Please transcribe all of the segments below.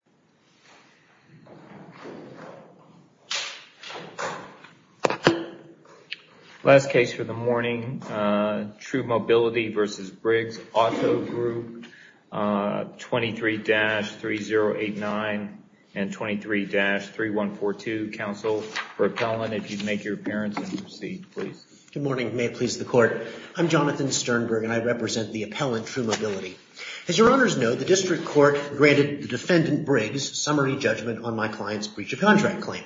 23-3089 and 23-3142. Counsel for appellant, if you'd make your appearance and proceed, please. Good morning. May it please the court. I'm Jonathan Sternberg and I represent the appellant, True Mobility. As your honors know, the district court granted the defendant Briggs summary judgment on my client's breach of contract claim.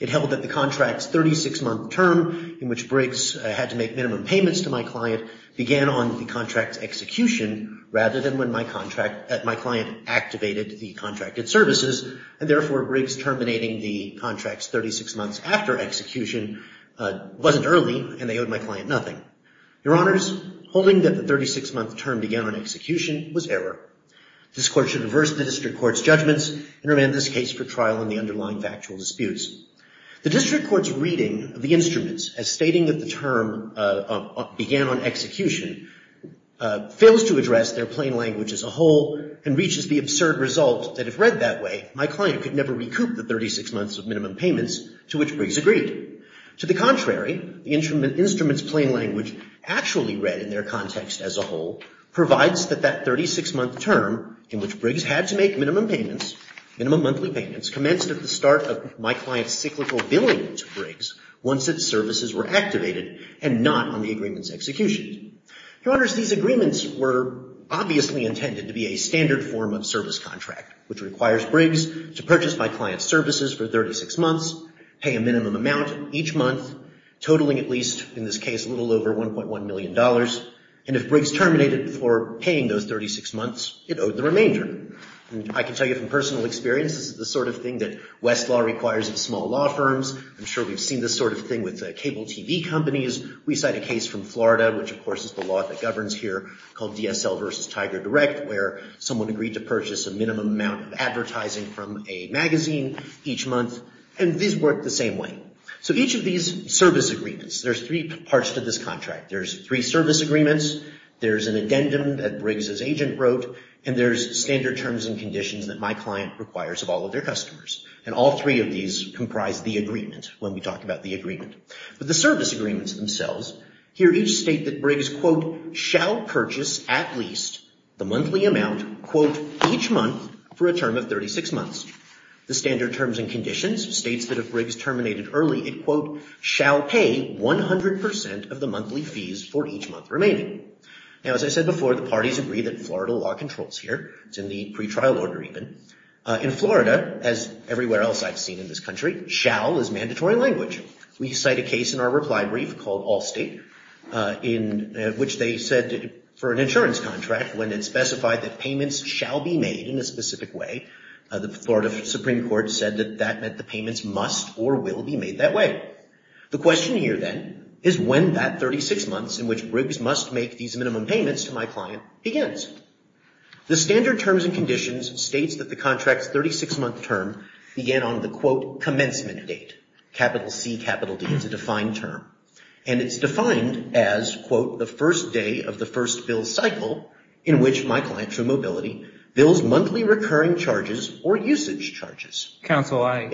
It held that the contract's 36-month term in which Briggs had to make minimum payments to my client began on the contract's execution rather than when my client activated the contracted services, and therefore Briggs terminating the contract's 36 months after execution wasn't early and they owed my client nothing. Your honors, holding that the 36-month term began on execution was error. This court should reverse the district court's judgments and remand this case for trial in the underlying factual disputes. The district court's reading of the instruments as stating that the term began on execution fails to address their plain language as a whole and reaches the absurd result that if read that way, my client could never recoup the 36 months of minimum payments to which Briggs agreed. To the contrary, the instrument's plain language actually read in their context as a whole provides that that 36-month term in which Briggs had to make minimum payments, minimum monthly payments, commenced at the start of my client's cyclical billing to Briggs once its services were activated and not on the agreement's execution. Your honors, these agreements were obviously intended to be a standard form of service contract, which requires Briggs to purchase my client's services for 36 months, pay a minimum amount each month, totaling at least, in this case, a little over $1.1 million, and if Briggs terminated before paying those 36 months, it owed the remainder. I can tell you from personal experience, this is the sort of thing that Westlaw requires of small law firms. I'm sure we've seen this sort of thing with cable TV companies. We cite a case from Florida, which of course is the law that governs here, called DSL versus Tiger Direct, where someone agreed to purchase a minimum amount of advertising from a magazine each month, and these work the same way. So each of these service agreements, there's three parts to this contract. There's three service agreements, there's an addendum that Briggs' agent wrote, and there's standard terms and conditions that my client requires of all of their customers, and all three of these comprise the agreement, when we talk about the agreement. But the service agreements themselves, here each state that Briggs, quote, shall purchase at least the monthly amount, quote, each month for a term of 36 months. The standard terms and conditions states that if Briggs terminated early, it, quote, shall pay 100% of the monthly fees for each month remaining. Now as I said before, the parties agree that Florida law controls here. It's in the pretrial order even. In Florida, as everywhere else I've seen in this country, shall is mandatory language. We cite a case in our reply brief called Allstate, in which they said for an insurance contract, when it specified that payments shall be made in a specific way, the Florida Supreme Court said that that meant the payments must or will be made that way. The question here then is when that 36 months in which Briggs must make these minimum payments to my client begins. The standard terms and conditions states that the contract's 36-month term began on the, quote, commencement date. Capital C, capital D is a defined term, and it's defined as, quote, the first day of the first bill cycle in which my client for mobility bills monthly recurring charges or usage charges. Counsel, I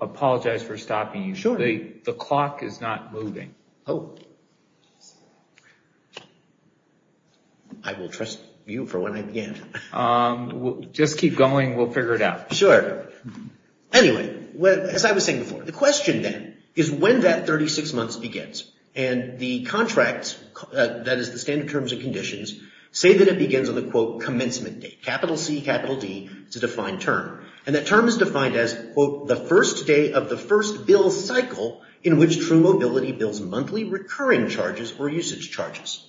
apologize for stopping you. Sure. The clock is not moving. Oh. I will trust you for when I begin. Just keep going. We'll figure it out. Sure. Anyway, as I was saying before, the question then is when that 36 months begins. And the contract, that is the standard terms and conditions, say that it begins on the, quote, commencement date. Capital C, capital D is a defined term, and that term is defined as, quote, the first day of the first bill cycle in which True Mobility bills monthly recurring charges or usage charges.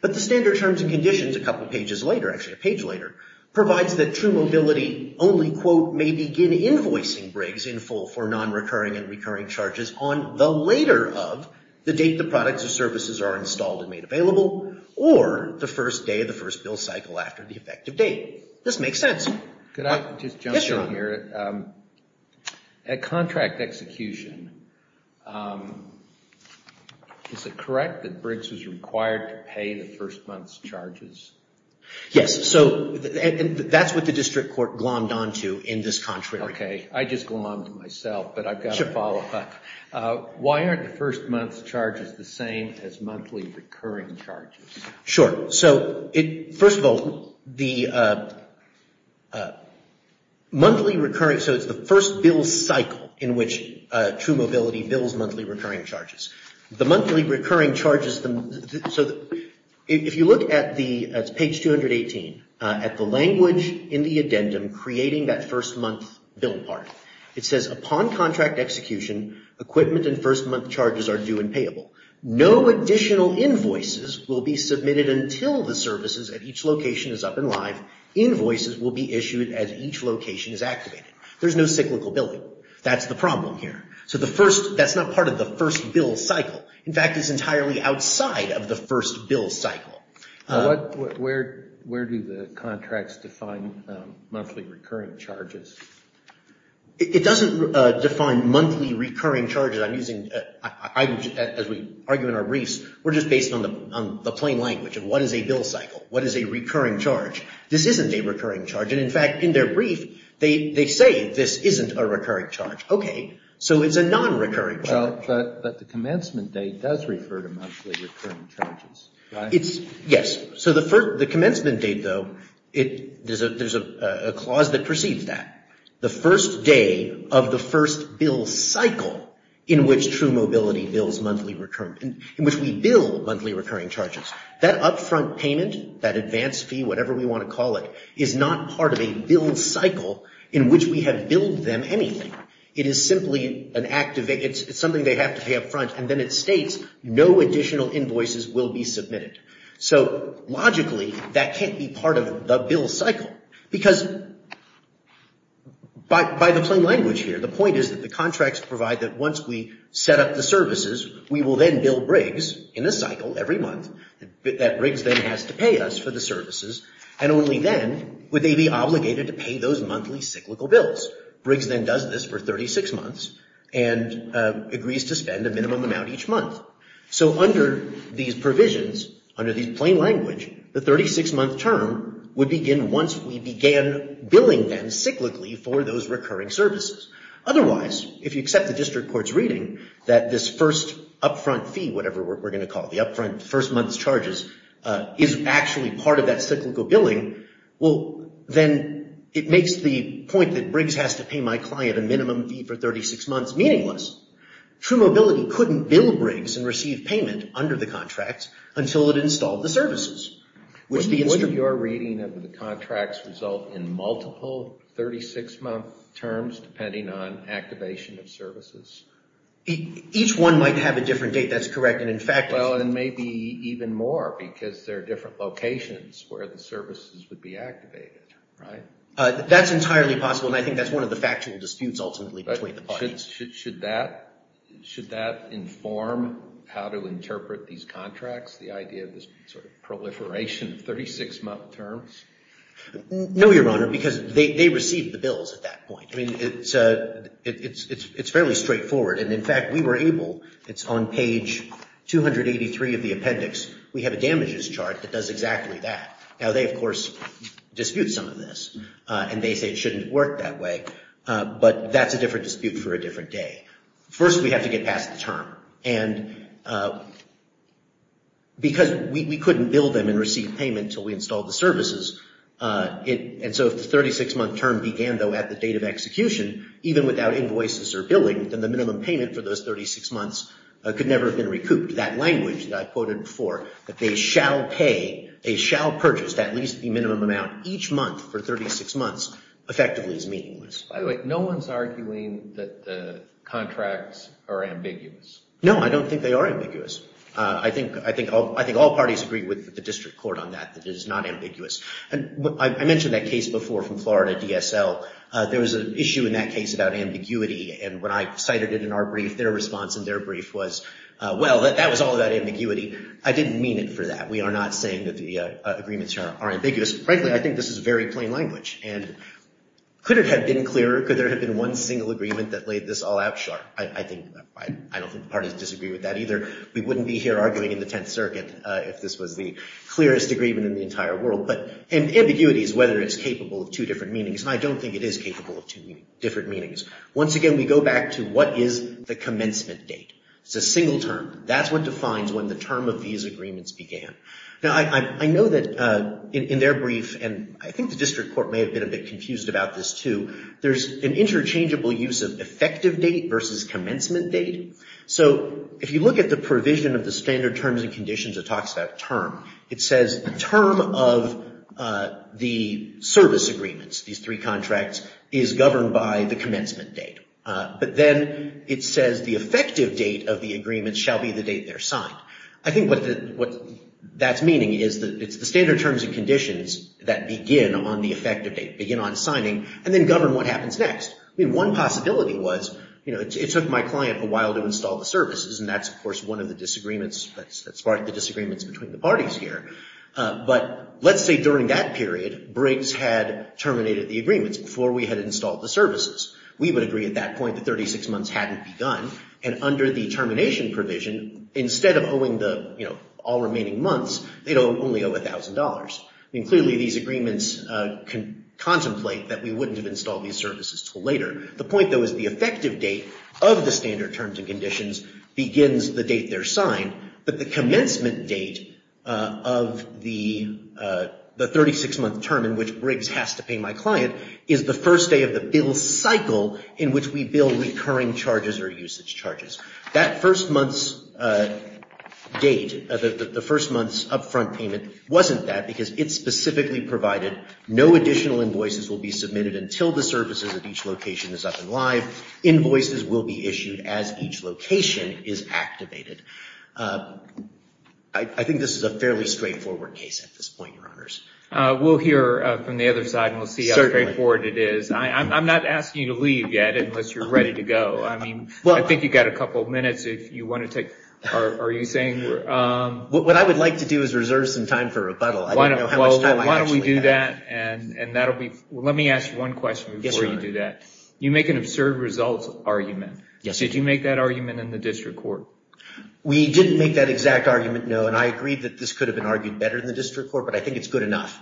But the standard terms and conditions, a couple pages later, actually a page later, provides that True Mobility only, quote, may begin invoicing Briggs in full for non-recurring and recurring charges on the later of the date the products or services are installed and made available or the first day of the first bill cycle after the effective date. This makes sense. Could I just jump in here? Yes, John. At contract execution, is it correct that Briggs was required to pay the first month's charges? Yes. So that's what the district court glommed on to in this contract. Okay. I just glommed on to myself, but I've got to follow up. Why aren't the first month's charges the same as monthly recurring charges? Sure. So first of all, the monthly recurring, so it's the first bill cycle in which True Mobility bills monthly recurring charges. The monthly recurring charges, so if you look at the, that's page 218, at the language in the addendum and creating that first month bill part. It says upon contract execution, equipment and first month charges are due and payable. No additional invoices will be submitted until the services at each location is up and live. Invoices will be issued as each location is activated. There's no cyclical billing. That's the problem here. So the first, that's not part of the first bill cycle. In fact, it's entirely outside of the first bill cycle. Where do the contracts define monthly recurring charges? It doesn't define monthly recurring charges. I'm using, as we argue in our briefs, we're just based on the plain language of what is a bill cycle? What is a recurring charge? This isn't a recurring charge. And in fact, in their brief, they say this isn't a recurring charge. Okay. So it's a non-recurring charge. But the commencement date does refer to monthly recurring charges. It's, yes. So the commencement date, though, there's a clause that precedes that. The first day of the first bill cycle in which True Mobility bills monthly recurring, in which we bill monthly recurring charges. That upfront payment, that advance fee, whatever we want to call it, is not part of a bill cycle in which we have billed them anything. It is simply an, it's something they have to pay upfront. And then it states, no additional invoices will be submitted. So logically, that can't be part of the bill cycle. Because by the plain language here, the point is that the contracts provide that once we set up the services, we will then bill Briggs in a cycle every month. That Briggs then has to pay us for the services. And only then would they be obligated to pay those monthly cyclical bills. Briggs then does this for 36 months and agrees to spend a minimum amount each month. So under these provisions, under the plain language, the 36-month term would begin once we began billing them cyclically for those recurring services. Otherwise, if you accept the district court's reading that this first upfront fee, whatever we're going to call it, the upfront first month's charges, is actually part of that cyclical billing, well, then it makes the point that Briggs has to pay my client a minimum fee for 36 months meaningless. True Mobility couldn't bill Briggs and receive payment under the contracts until it installed the services. Would your reading of the contracts result in multiple 36-month terms depending on activation of services? Each one might have a different date, that's correct. Well, and maybe even more because there are different locations where the services would be activated, right? That's entirely possible, and I think that's one of the factual disputes ultimately between the parties. Should that inform how to interpret these contracts, the idea of this sort of proliferation of 36-month terms? No, Your Honor, because they received the bills at that point. I mean, it's fairly straightforward. And in fact, we were able, it's on page 283 of the appendix, we have a damages chart that does exactly that. Now, they, of course, dispute some of this, and they say it shouldn't work that way. But that's a different dispute for a different day. First, we have to get past the term. And because we couldn't bill them and receive payment until we installed the services, and so if the 36-month term began, though, at the date of execution, even without invoices or billing, then the minimum payment for those 36 months could never have been recouped. That language that I quoted before, that they shall pay, they shall purchase at least the minimum amount each month for 36 months, effectively is meaningless. By the way, no one's arguing that the contracts are ambiguous. No, I don't think they are ambiguous. I think all parties agree with the district court on that, that it is not ambiguous. I mentioned that case before from Florida DSL. There was an issue in that case about ambiguity, and when I cited it in our brief, their response in their brief was, well, that was all about ambiguity. I didn't mean it for that. We are not saying that the agreements are ambiguous. Frankly, I think this is very plain language. And could it have been clearer? Could there have been one single agreement that laid this all out sharp? I don't think the parties disagree with that either. We wouldn't be here arguing in the Tenth Circuit if this was the clearest agreement in the entire world. But ambiguity is whether it's capable of two different meanings, and I don't think it is capable of two different meanings. Once again, we go back to what is the commencement date. It's a single term. That's what defines when the term of these agreements began. Now, I know that in their brief, and I think the district court may have been a bit confused about this too, there's an interchangeable use of effective date versus commencement date. So if you look at the provision of the standard terms and conditions, it talks about term. It says the term of the service agreements, these three contracts, is governed by the commencement date. But then it says the effective date of the agreement shall be the date they're signed. I think what that's meaning is that it's the standard terms and conditions that begin on the effective date, begin on signing, and then govern what happens next. I mean, one possibility was, you know, it took my client a while to install the services, and that's, of course, one of the disagreements that sparked the disagreements between the parties here. But let's say during that period, Briggs had terminated the agreements before we had installed the services. We would agree at that point that 36 months hadn't begun, and under the termination provision, instead of owing the, you know, all remaining months, they'd only owe $1,000. I mean, clearly these agreements contemplate that we wouldn't have installed these services until later. The point, though, is the effective date of the standard terms and conditions begins the date they're signed, but the commencement date of the 36-month term in which Briggs has to pay my client is the first day of the bill cycle in which we bill recurring charges or usage charges. That first month's date, the first month's upfront payment, wasn't that because it specifically provided no additional invoices will be submitted until the services of each location is up and live. Invoices will be issued as each location is activated. I think this is a fairly straightforward case at this point, Your Honors. We'll hear from the other side, and we'll see how straightforward it is. Certainly. I'm not asking you to leave yet unless you're ready to go. I mean, I think you've got a couple of minutes if you want to take... Are you saying... What I would like to do is reserve some time for rebuttal. I don't know how much time I actually have. Why don't we do that? Let me ask you one question before you do that. You make an absurd results argument. Did you make that argument in the district court? We didn't make that exact argument, no, and I agree that this could have been argued better in the district court, but I think it's good enough.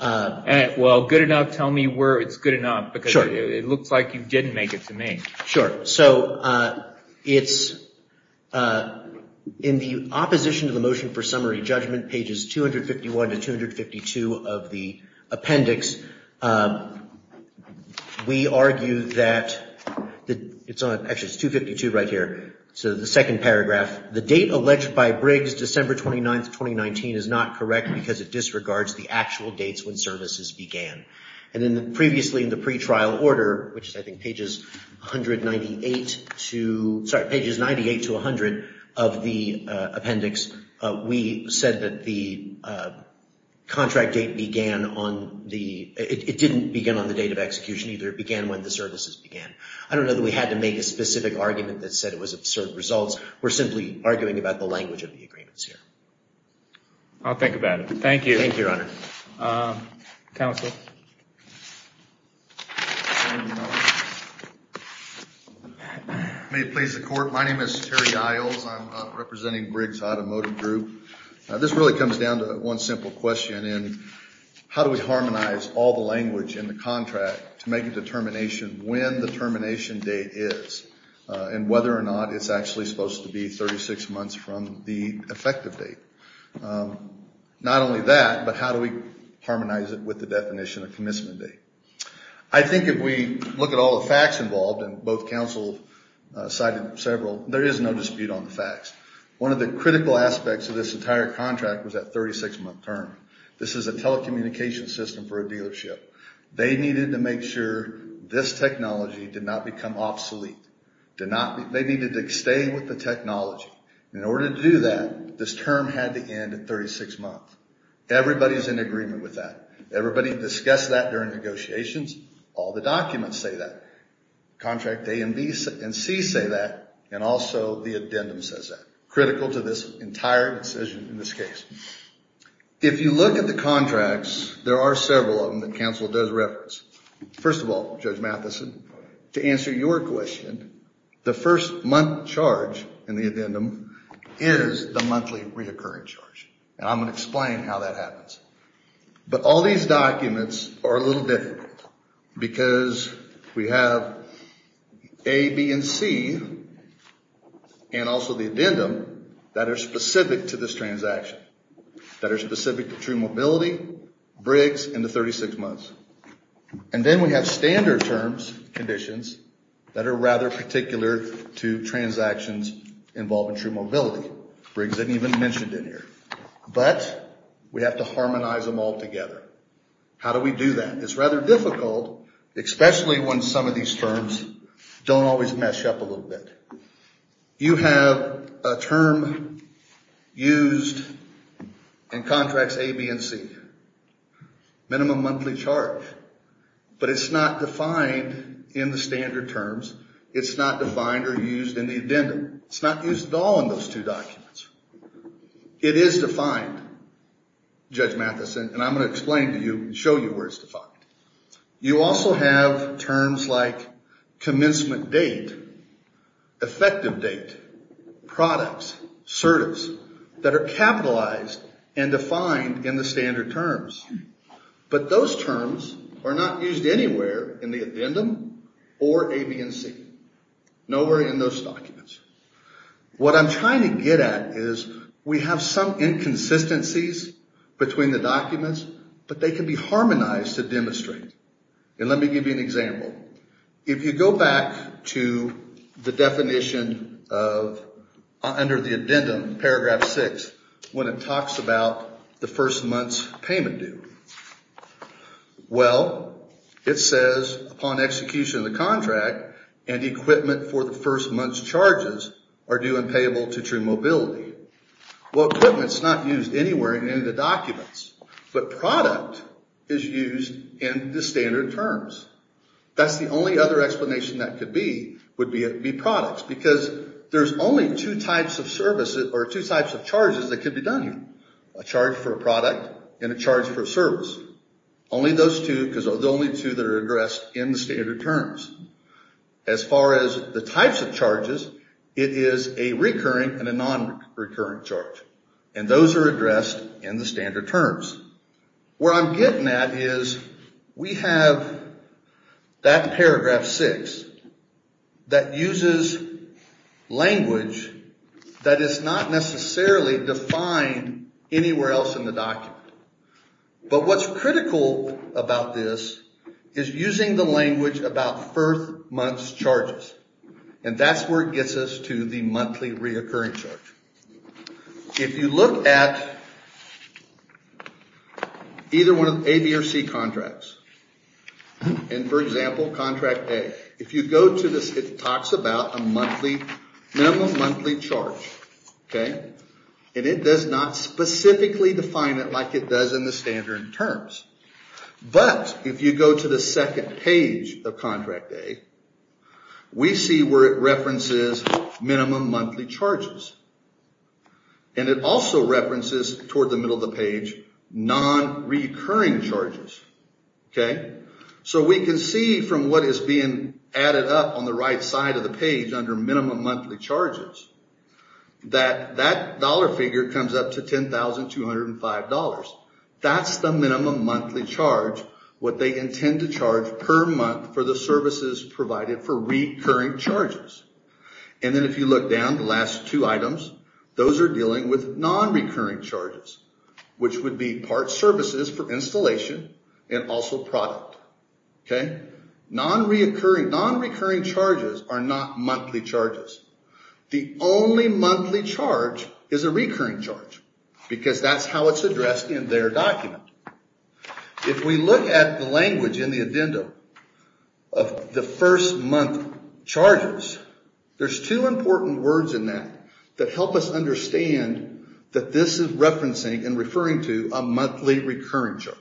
Well, good enough, tell me where it's good enough because it looks like you didn't make it to me. Sure, so it's... In the opposition to the motion for summary judgment, pages 251 to 252 of the appendix, we argue that... Actually, it's 252 right here, so the second paragraph. The date alleged by Briggs, December 29th, 2019, is not correct because it disregards the actual dates when services began. And then previously in the pretrial order, which is I think pages 198 to... Sorry, pages 98 to 100 of the appendix, we said that the contract date began on the... It didn't begin on the date of execution either. It began when the services began. I don't know that we had to make a specific argument that said it was absurd results. We're simply arguing about the language of the agreements here. Thank you. Thank you, Your Honor. Counsel. May it please the court. My name is Terry Iles. I'm representing Briggs Automotive Group. This really comes down to one simple question in how do we harmonize all the language in the contract to make a determination when the termination date is and whether or not it's actually supposed to be 36 months from the effective date. Not only that, but how do we harmonize it with the definition of commencement date? I think if we look at all the facts involved, and both counsel cited several, there is no dispute on the facts. One of the critical aspects of this entire contract was that 36-month term. This is a telecommunications system for a dealership. They needed to make sure this technology did not become obsolete. They needed to stay with the technology. In order to do that, this term had to end at 36 months. Everybody's in agreement with that. Everybody discussed that during negotiations. All the documents say that. Contract A and B and C say that, and also the addendum says that, critical to this entire decision in this case. If you look at the contracts, there are several of them that counsel does reference. First of all, Judge Matheson, to answer your question, the first month charge in the addendum is the monthly reoccurring charge, and I'm going to explain how that happens. But all these documents are a little different because we have A, B, and C, and also the addendum, that are specific to this transaction, that are specific to True Mobility, Briggs, and the 36 months. And then we have standard terms, conditions, that are rather particular to transactions involving True Mobility. Briggs didn't even mention it here. But we have to harmonize them all together. How do we do that? It's rather difficult, especially when some of these terms don't always mesh up a little bit. You have a term used in contracts A, B, and C. Minimum monthly charge. But it's not defined in the standard terms. It's not defined or used in the addendum. It's not used at all in those two documents. It is defined, Judge Matheson, and I'm going to explain to you, show you where it's defined. You also have terms like commencement date, effective date, products, certives, that are capitalized and defined in the standard terms. But those terms are not used anywhere in the addendum or A, B, and C. Nowhere in those documents. What I'm trying to get at is we have some inconsistencies between the documents, but they can be harmonized to demonstrate. And let me give you an example. If you go back to the definition under the addendum, paragraph 6, when it talks about the first month's payment due. Well, it says upon execution of the contract, and equipment for the first month's charges are due and payable to true mobility. Well, equipment's not used anywhere in the documents. But product is used in the standard terms. That's the only other explanation that could be, would be products. Because there's only two types of charges that could be done here. A charge for a product and a charge for a service. Only those two, because they're the only two that are addressed in the standard terms. As far as the types of charges, it is a recurring and a non-recurring charge. And those are addressed in the standard terms. Where I'm getting at is we have that paragraph 6 that uses language that is not necessarily defined anywhere else in the document. But what's critical about this is using the language about first month's charges. And that's where it gets us to the monthly reoccurring charge. If you look at either one of the A, B, or C contracts, and for example, contract A, if you go to this, it talks about a monthly, minimum monthly charge, okay? And it does not specifically define it like it does in the standard terms. But if you go to the second page of contract A, we see where it references minimum monthly charges. And it also references, toward the middle of the page, non-recurring charges, okay? So we can see from what is being added up on the right side of the page under minimum monthly charges that that dollar figure comes up to $10,205. That's the minimum monthly charge, what they intend to charge per month for the services provided for recurring charges. And then if you look down the last two items, those are dealing with non-recurring charges, which would be part services for installation and also product, okay? Non-recurring charges are not monthly charges. The only monthly charge is a recurring charge because that's how it's addressed in their document. If we look at the language in the addendum of the first month charges, there's two important words in that that help us understand that this is referencing and referring to a monthly recurring charge.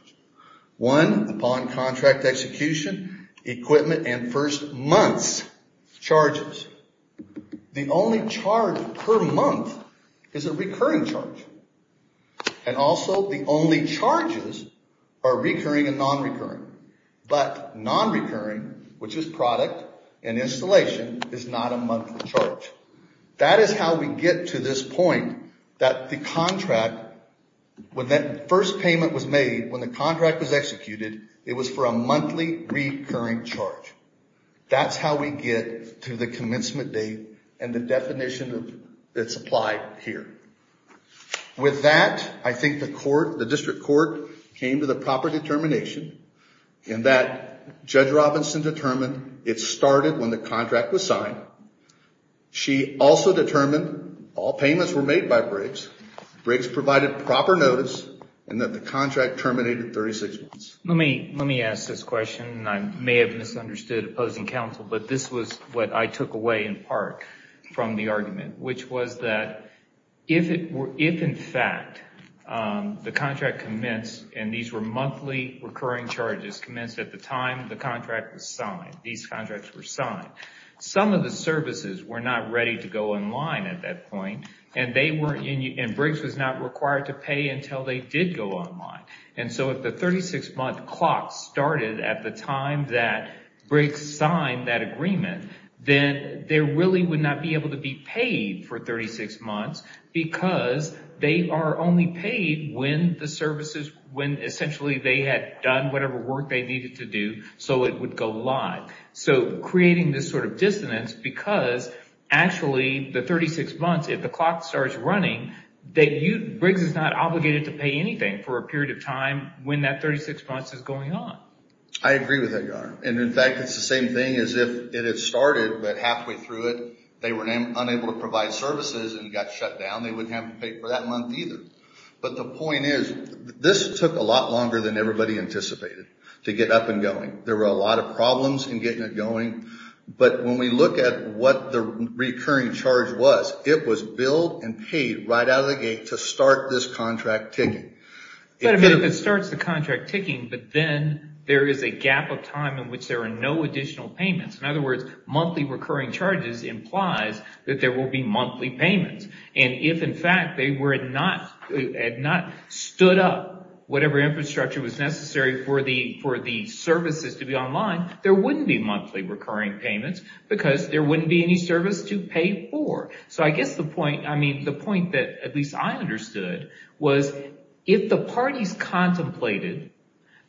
One, upon contract execution, equipment, and first month's charges. The only charge per month is a recurring charge. And also the only charges are recurring and non-recurring. But non-recurring, which is product and installation, is not a monthly charge. That is how we get to this point that the contract, when that first payment was made, when the contract was executed, it was for a monthly recurring charge. That's how we get to the commencement date and the definition that's applied here. With that, I think the district court came to the proper determination in that Judge Robinson determined it started when the contract was signed. She also determined all payments were made by Briggs. Briggs provided proper notice in that the contract terminated 36 months. Let me ask this question, and I may have misunderstood opposing counsel, but this was what I took away in part from the argument, which was that if, in fact, the contract commenced and these were monthly recurring charges commenced at the time the contract was signed, these contracts were signed, some of the services were not ready to go online at that point, and Briggs was not required to pay until they did go online. If the 36-month clock started at the time that Briggs signed that agreement, then they really would not be able to be paid for 36 months because they are only paid when essentially they had done whatever work they needed to do so it would go live, creating this sort of dissonance because actually the 36 months, if the clock starts running, Briggs is not obligated to pay anything for a period of time when that 36 months is going on. I agree with that, Your Honor, and, in fact, it's the same thing as if it had started, but halfway through it they were unable to provide services and got shut down. They wouldn't have to pay for that month either, but the point is this took a lot longer than everybody anticipated to get up and going. There were a lot of problems in getting it going, but when we look at what the recurring charge was, it was billed and paid right out of the gate to start this contract ticking. But if it starts the contract ticking, but then there is a gap of time in which there are no additional payments. In other words, monthly recurring charges implies that there will be monthly payments, and if, in fact, they had not stood up whatever infrastructure was necessary for the services to be online, there wouldn't be monthly recurring payments because there wouldn't be any service to pay for. So I guess the point that at least I understood was if the parties contemplated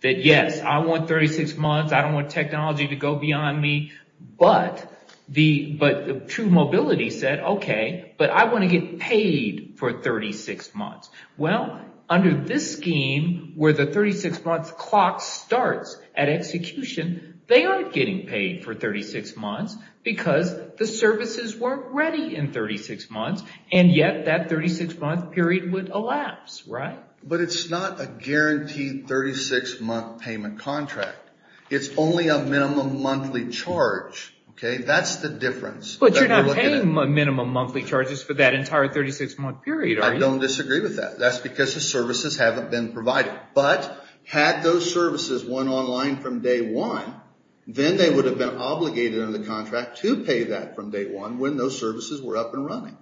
that, yes, I want 36 months, I don't want technology to go beyond me, but True Mobility said, okay, but I want to get paid for 36 months. Well, under this scheme where the 36-month clock starts at execution, they are getting paid for 36 months because the services weren't ready in 36 months, and yet that 36-month period would elapse, right? But it's not a guaranteed 36-month payment contract. It's only a minimum monthly charge. That's the difference. But you're not paying minimum monthly charges for that entire 36-month period, are you? I don't disagree with that. That's because the services haven't been provided. But had those services went online from day one, then they would have been obligated under the contract to pay that from day one when those services were up and running.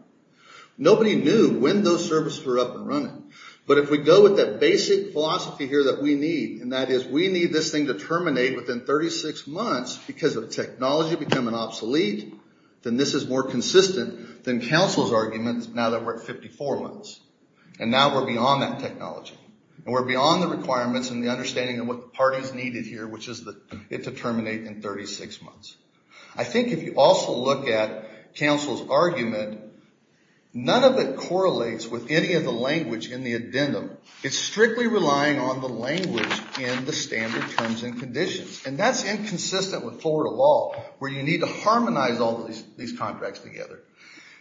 Nobody knew when those services were up and running. But if we go with that basic philosophy here that we need, and that is we need this thing to terminate within 36 months because of technology becoming obsolete, then this is more consistent than counsel's arguments now that we're at 54 months. And now we're beyond that technology. We're beyond the requirements and the understanding of what the parties needed here, which is it to terminate in 36 months. I think if you also look at counsel's argument, none of it correlates with any of the language in the addendum. It's strictly relying on the language in the standard terms and conditions, and that's inconsistent with Florida law where you need to harmonize all of these contracts together.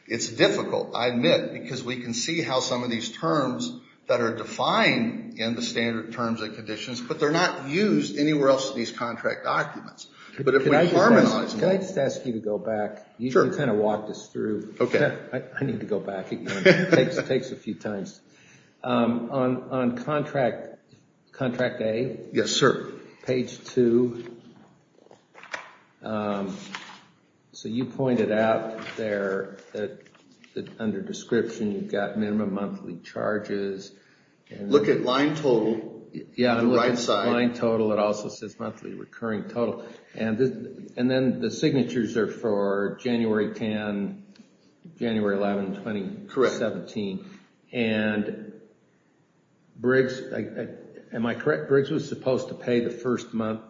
It's difficult, I admit, because we can see how some of these terms that are defined in the standard terms and conditions, but they're not used anywhere else in these contract documents. But if we harmonize them. Can I just ask you to go back? Sure. You kind of walked us through. Okay. I need to go back. It takes a few times. On contract A. Yes, sir. Page 2. So you pointed out there that under description, you've got minimum monthly charges. Look at line total on the right side. Yeah, line total. It also says monthly recurring total. And then the signatures are for January 10, January 11, 2017. Correct. And Briggs, am I correct? Briggs was supposed to pay the first month.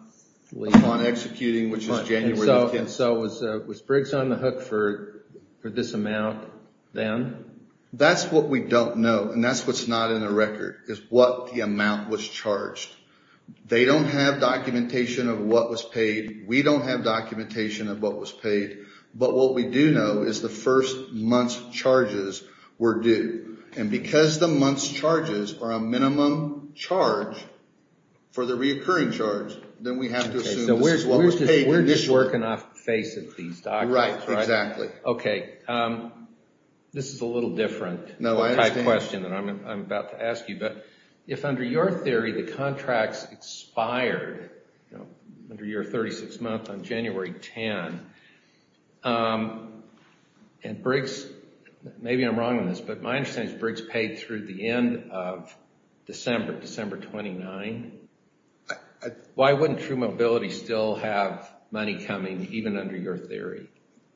Upon executing, which is January 10. So was Briggs on the hook for this amount then? That's what we don't know, and that's what's not in the record, is what the amount was charged. They don't have documentation of what was paid. We don't have documentation of what was paid. But what we do know is the first month's charges were due. And because the month's charges are a minimum charge for the reoccurring charge, then we have to assume this is what was paid. So we're just working off the face of these documents, right? Right, exactly. Okay. This is a little different type question that I'm about to ask you. But if under your theory the contracts expired under your 36th month on January 10, and Briggs, maybe I'm wrong on this, but my understanding is Briggs paid through the end of December, December 29. Why wouldn't True Mobility still have money coming, even under your theory?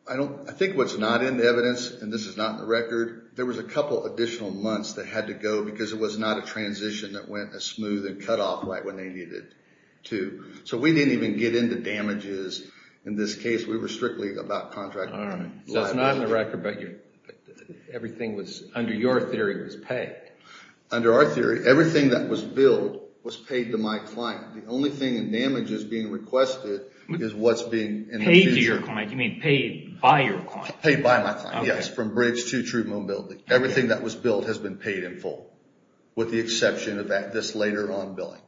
I think what's not in the evidence, and this is not in the record, there was a couple additional months that had to go because it was not a transition that went as smooth and cut off right when they needed to. So we didn't even get into damages in this case. We were strictly about contract liability. So it's not in the record, but everything under your theory was paid. Under our theory, everything that was billed was paid to my client. The only thing in damages being requested is what's being in the future. Paid to your client? You mean paid by your client? Paid by my client, yes, from Briggs to True Mobility. Everything that was billed has been paid in full, with the exception of this later on billing.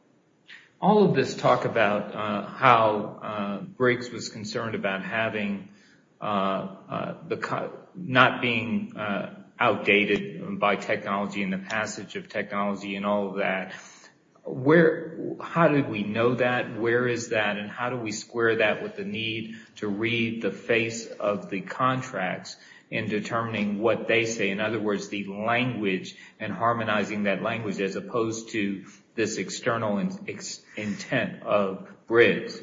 All of this talk about how Briggs was concerned about not being outdated by technology and the passage of technology and all of that, how did we know that? Where is that and how do we square that with the need to read the face of the contracts in determining what they say? In other words, the language and harmonizing that language as opposed to this external intent of Briggs.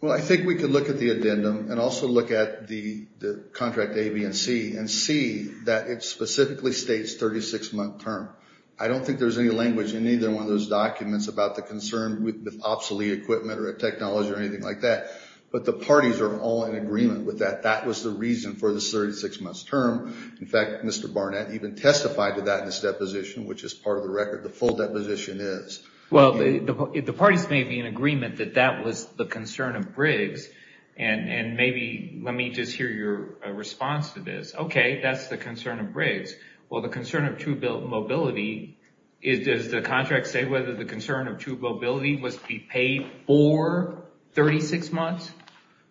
Well, I think we could look at the addendum and also look at the contract A, B, and C, and see that it specifically states 36-month term. I don't think there's any language in either one of those documents about the concern with obsolete equipment or technology or anything like that, but the parties are all in agreement with that. That was the reason for the 36-month term. In fact, Mr. Barnett even testified to that in his deposition, which is part of the record, the full deposition is. Maybe let me just hear your response to this. Okay, that's the concern of Briggs. Well, the concern of true mobility, does the contract say whether the concern of true mobility must be paid for 36 months?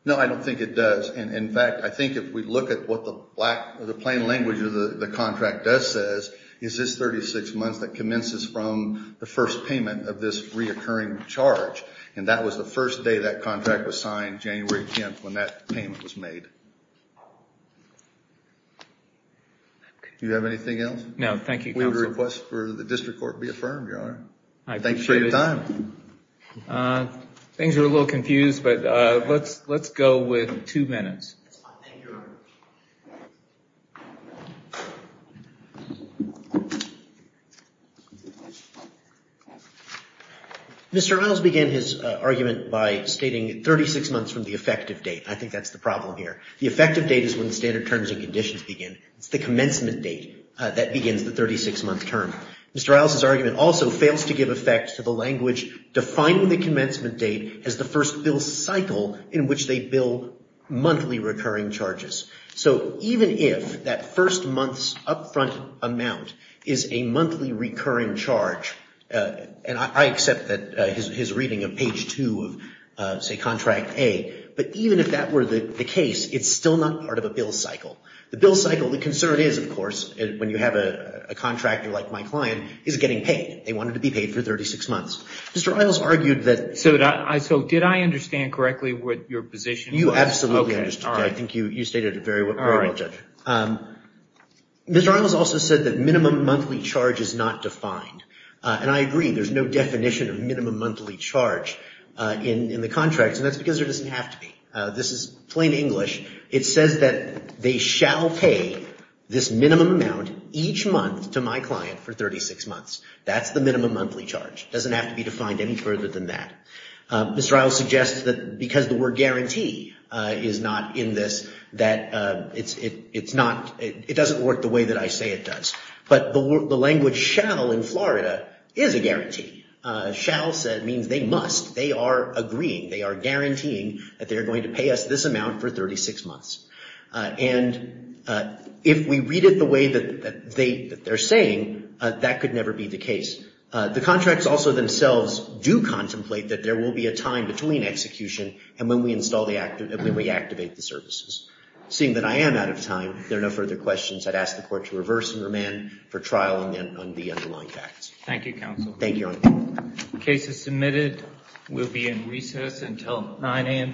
No, I don't think it does. In fact, I think if we look at what the plain language of the contract does says is this 36 months that commences from the first payment of this reoccurring charge, and that was the first day that contract was signed, January 10th when that payment was made. Do you have anything else? No, thank you, counsel. We would request for the district court to be affirmed, Your Honor. I appreciate it. Thanks for your time. Things are a little confused, but let's go with two minutes. Mr. Riles began his argument by stating 36 months from the effective date. I think that's the problem here. The effective date is when standard terms and conditions begin. It's the commencement date that begins the 36-month term. Mr. Riles' argument also fails to give effect to the language defining the commencement date as the first bill cycle in which they bill monthly recurring charges. So even if that first month's upfront amount is a monthly recurring charge, and I accept that his reading of page 2 of, say, Contract A, but even if that were the case, it's still not part of a bill cycle. The bill cycle, the concern is, of course, when you have a contractor like my client, is getting paid. They wanted to be paid for 36 months. Mr. Riles argued that – You absolutely understood that. I think you stated it very well, Judge. Mr. Riles also said that minimum monthly charge is not defined. And I agree. There's no definition of minimum monthly charge in the contracts, and that's because there doesn't have to be. This is plain English. It says that they shall pay this minimum amount each month to my client for 36 months. That's the minimum monthly charge. It doesn't have to be defined any further than that. Mr. Riles suggests that because the word guarantee is not in this, that it's not – it doesn't work the way that I say it does. But the language shall in Florida is a guarantee. Shall means they must. They are agreeing. They are guaranteeing that they are going to pay us this amount for 36 months. And if we read it the way that they're saying, that could never be the case. The contracts also themselves do contemplate that there will be a time between execution and when we install the – when we activate the services. Seeing that I am out of time, if there are no further questions, I'd ask the Court to reverse and remand for trial on the underlying facts. Thank you, Counsel. Thank you, Your Honor. The case is submitted. We'll be in recess until 9 a.m. tomorrow.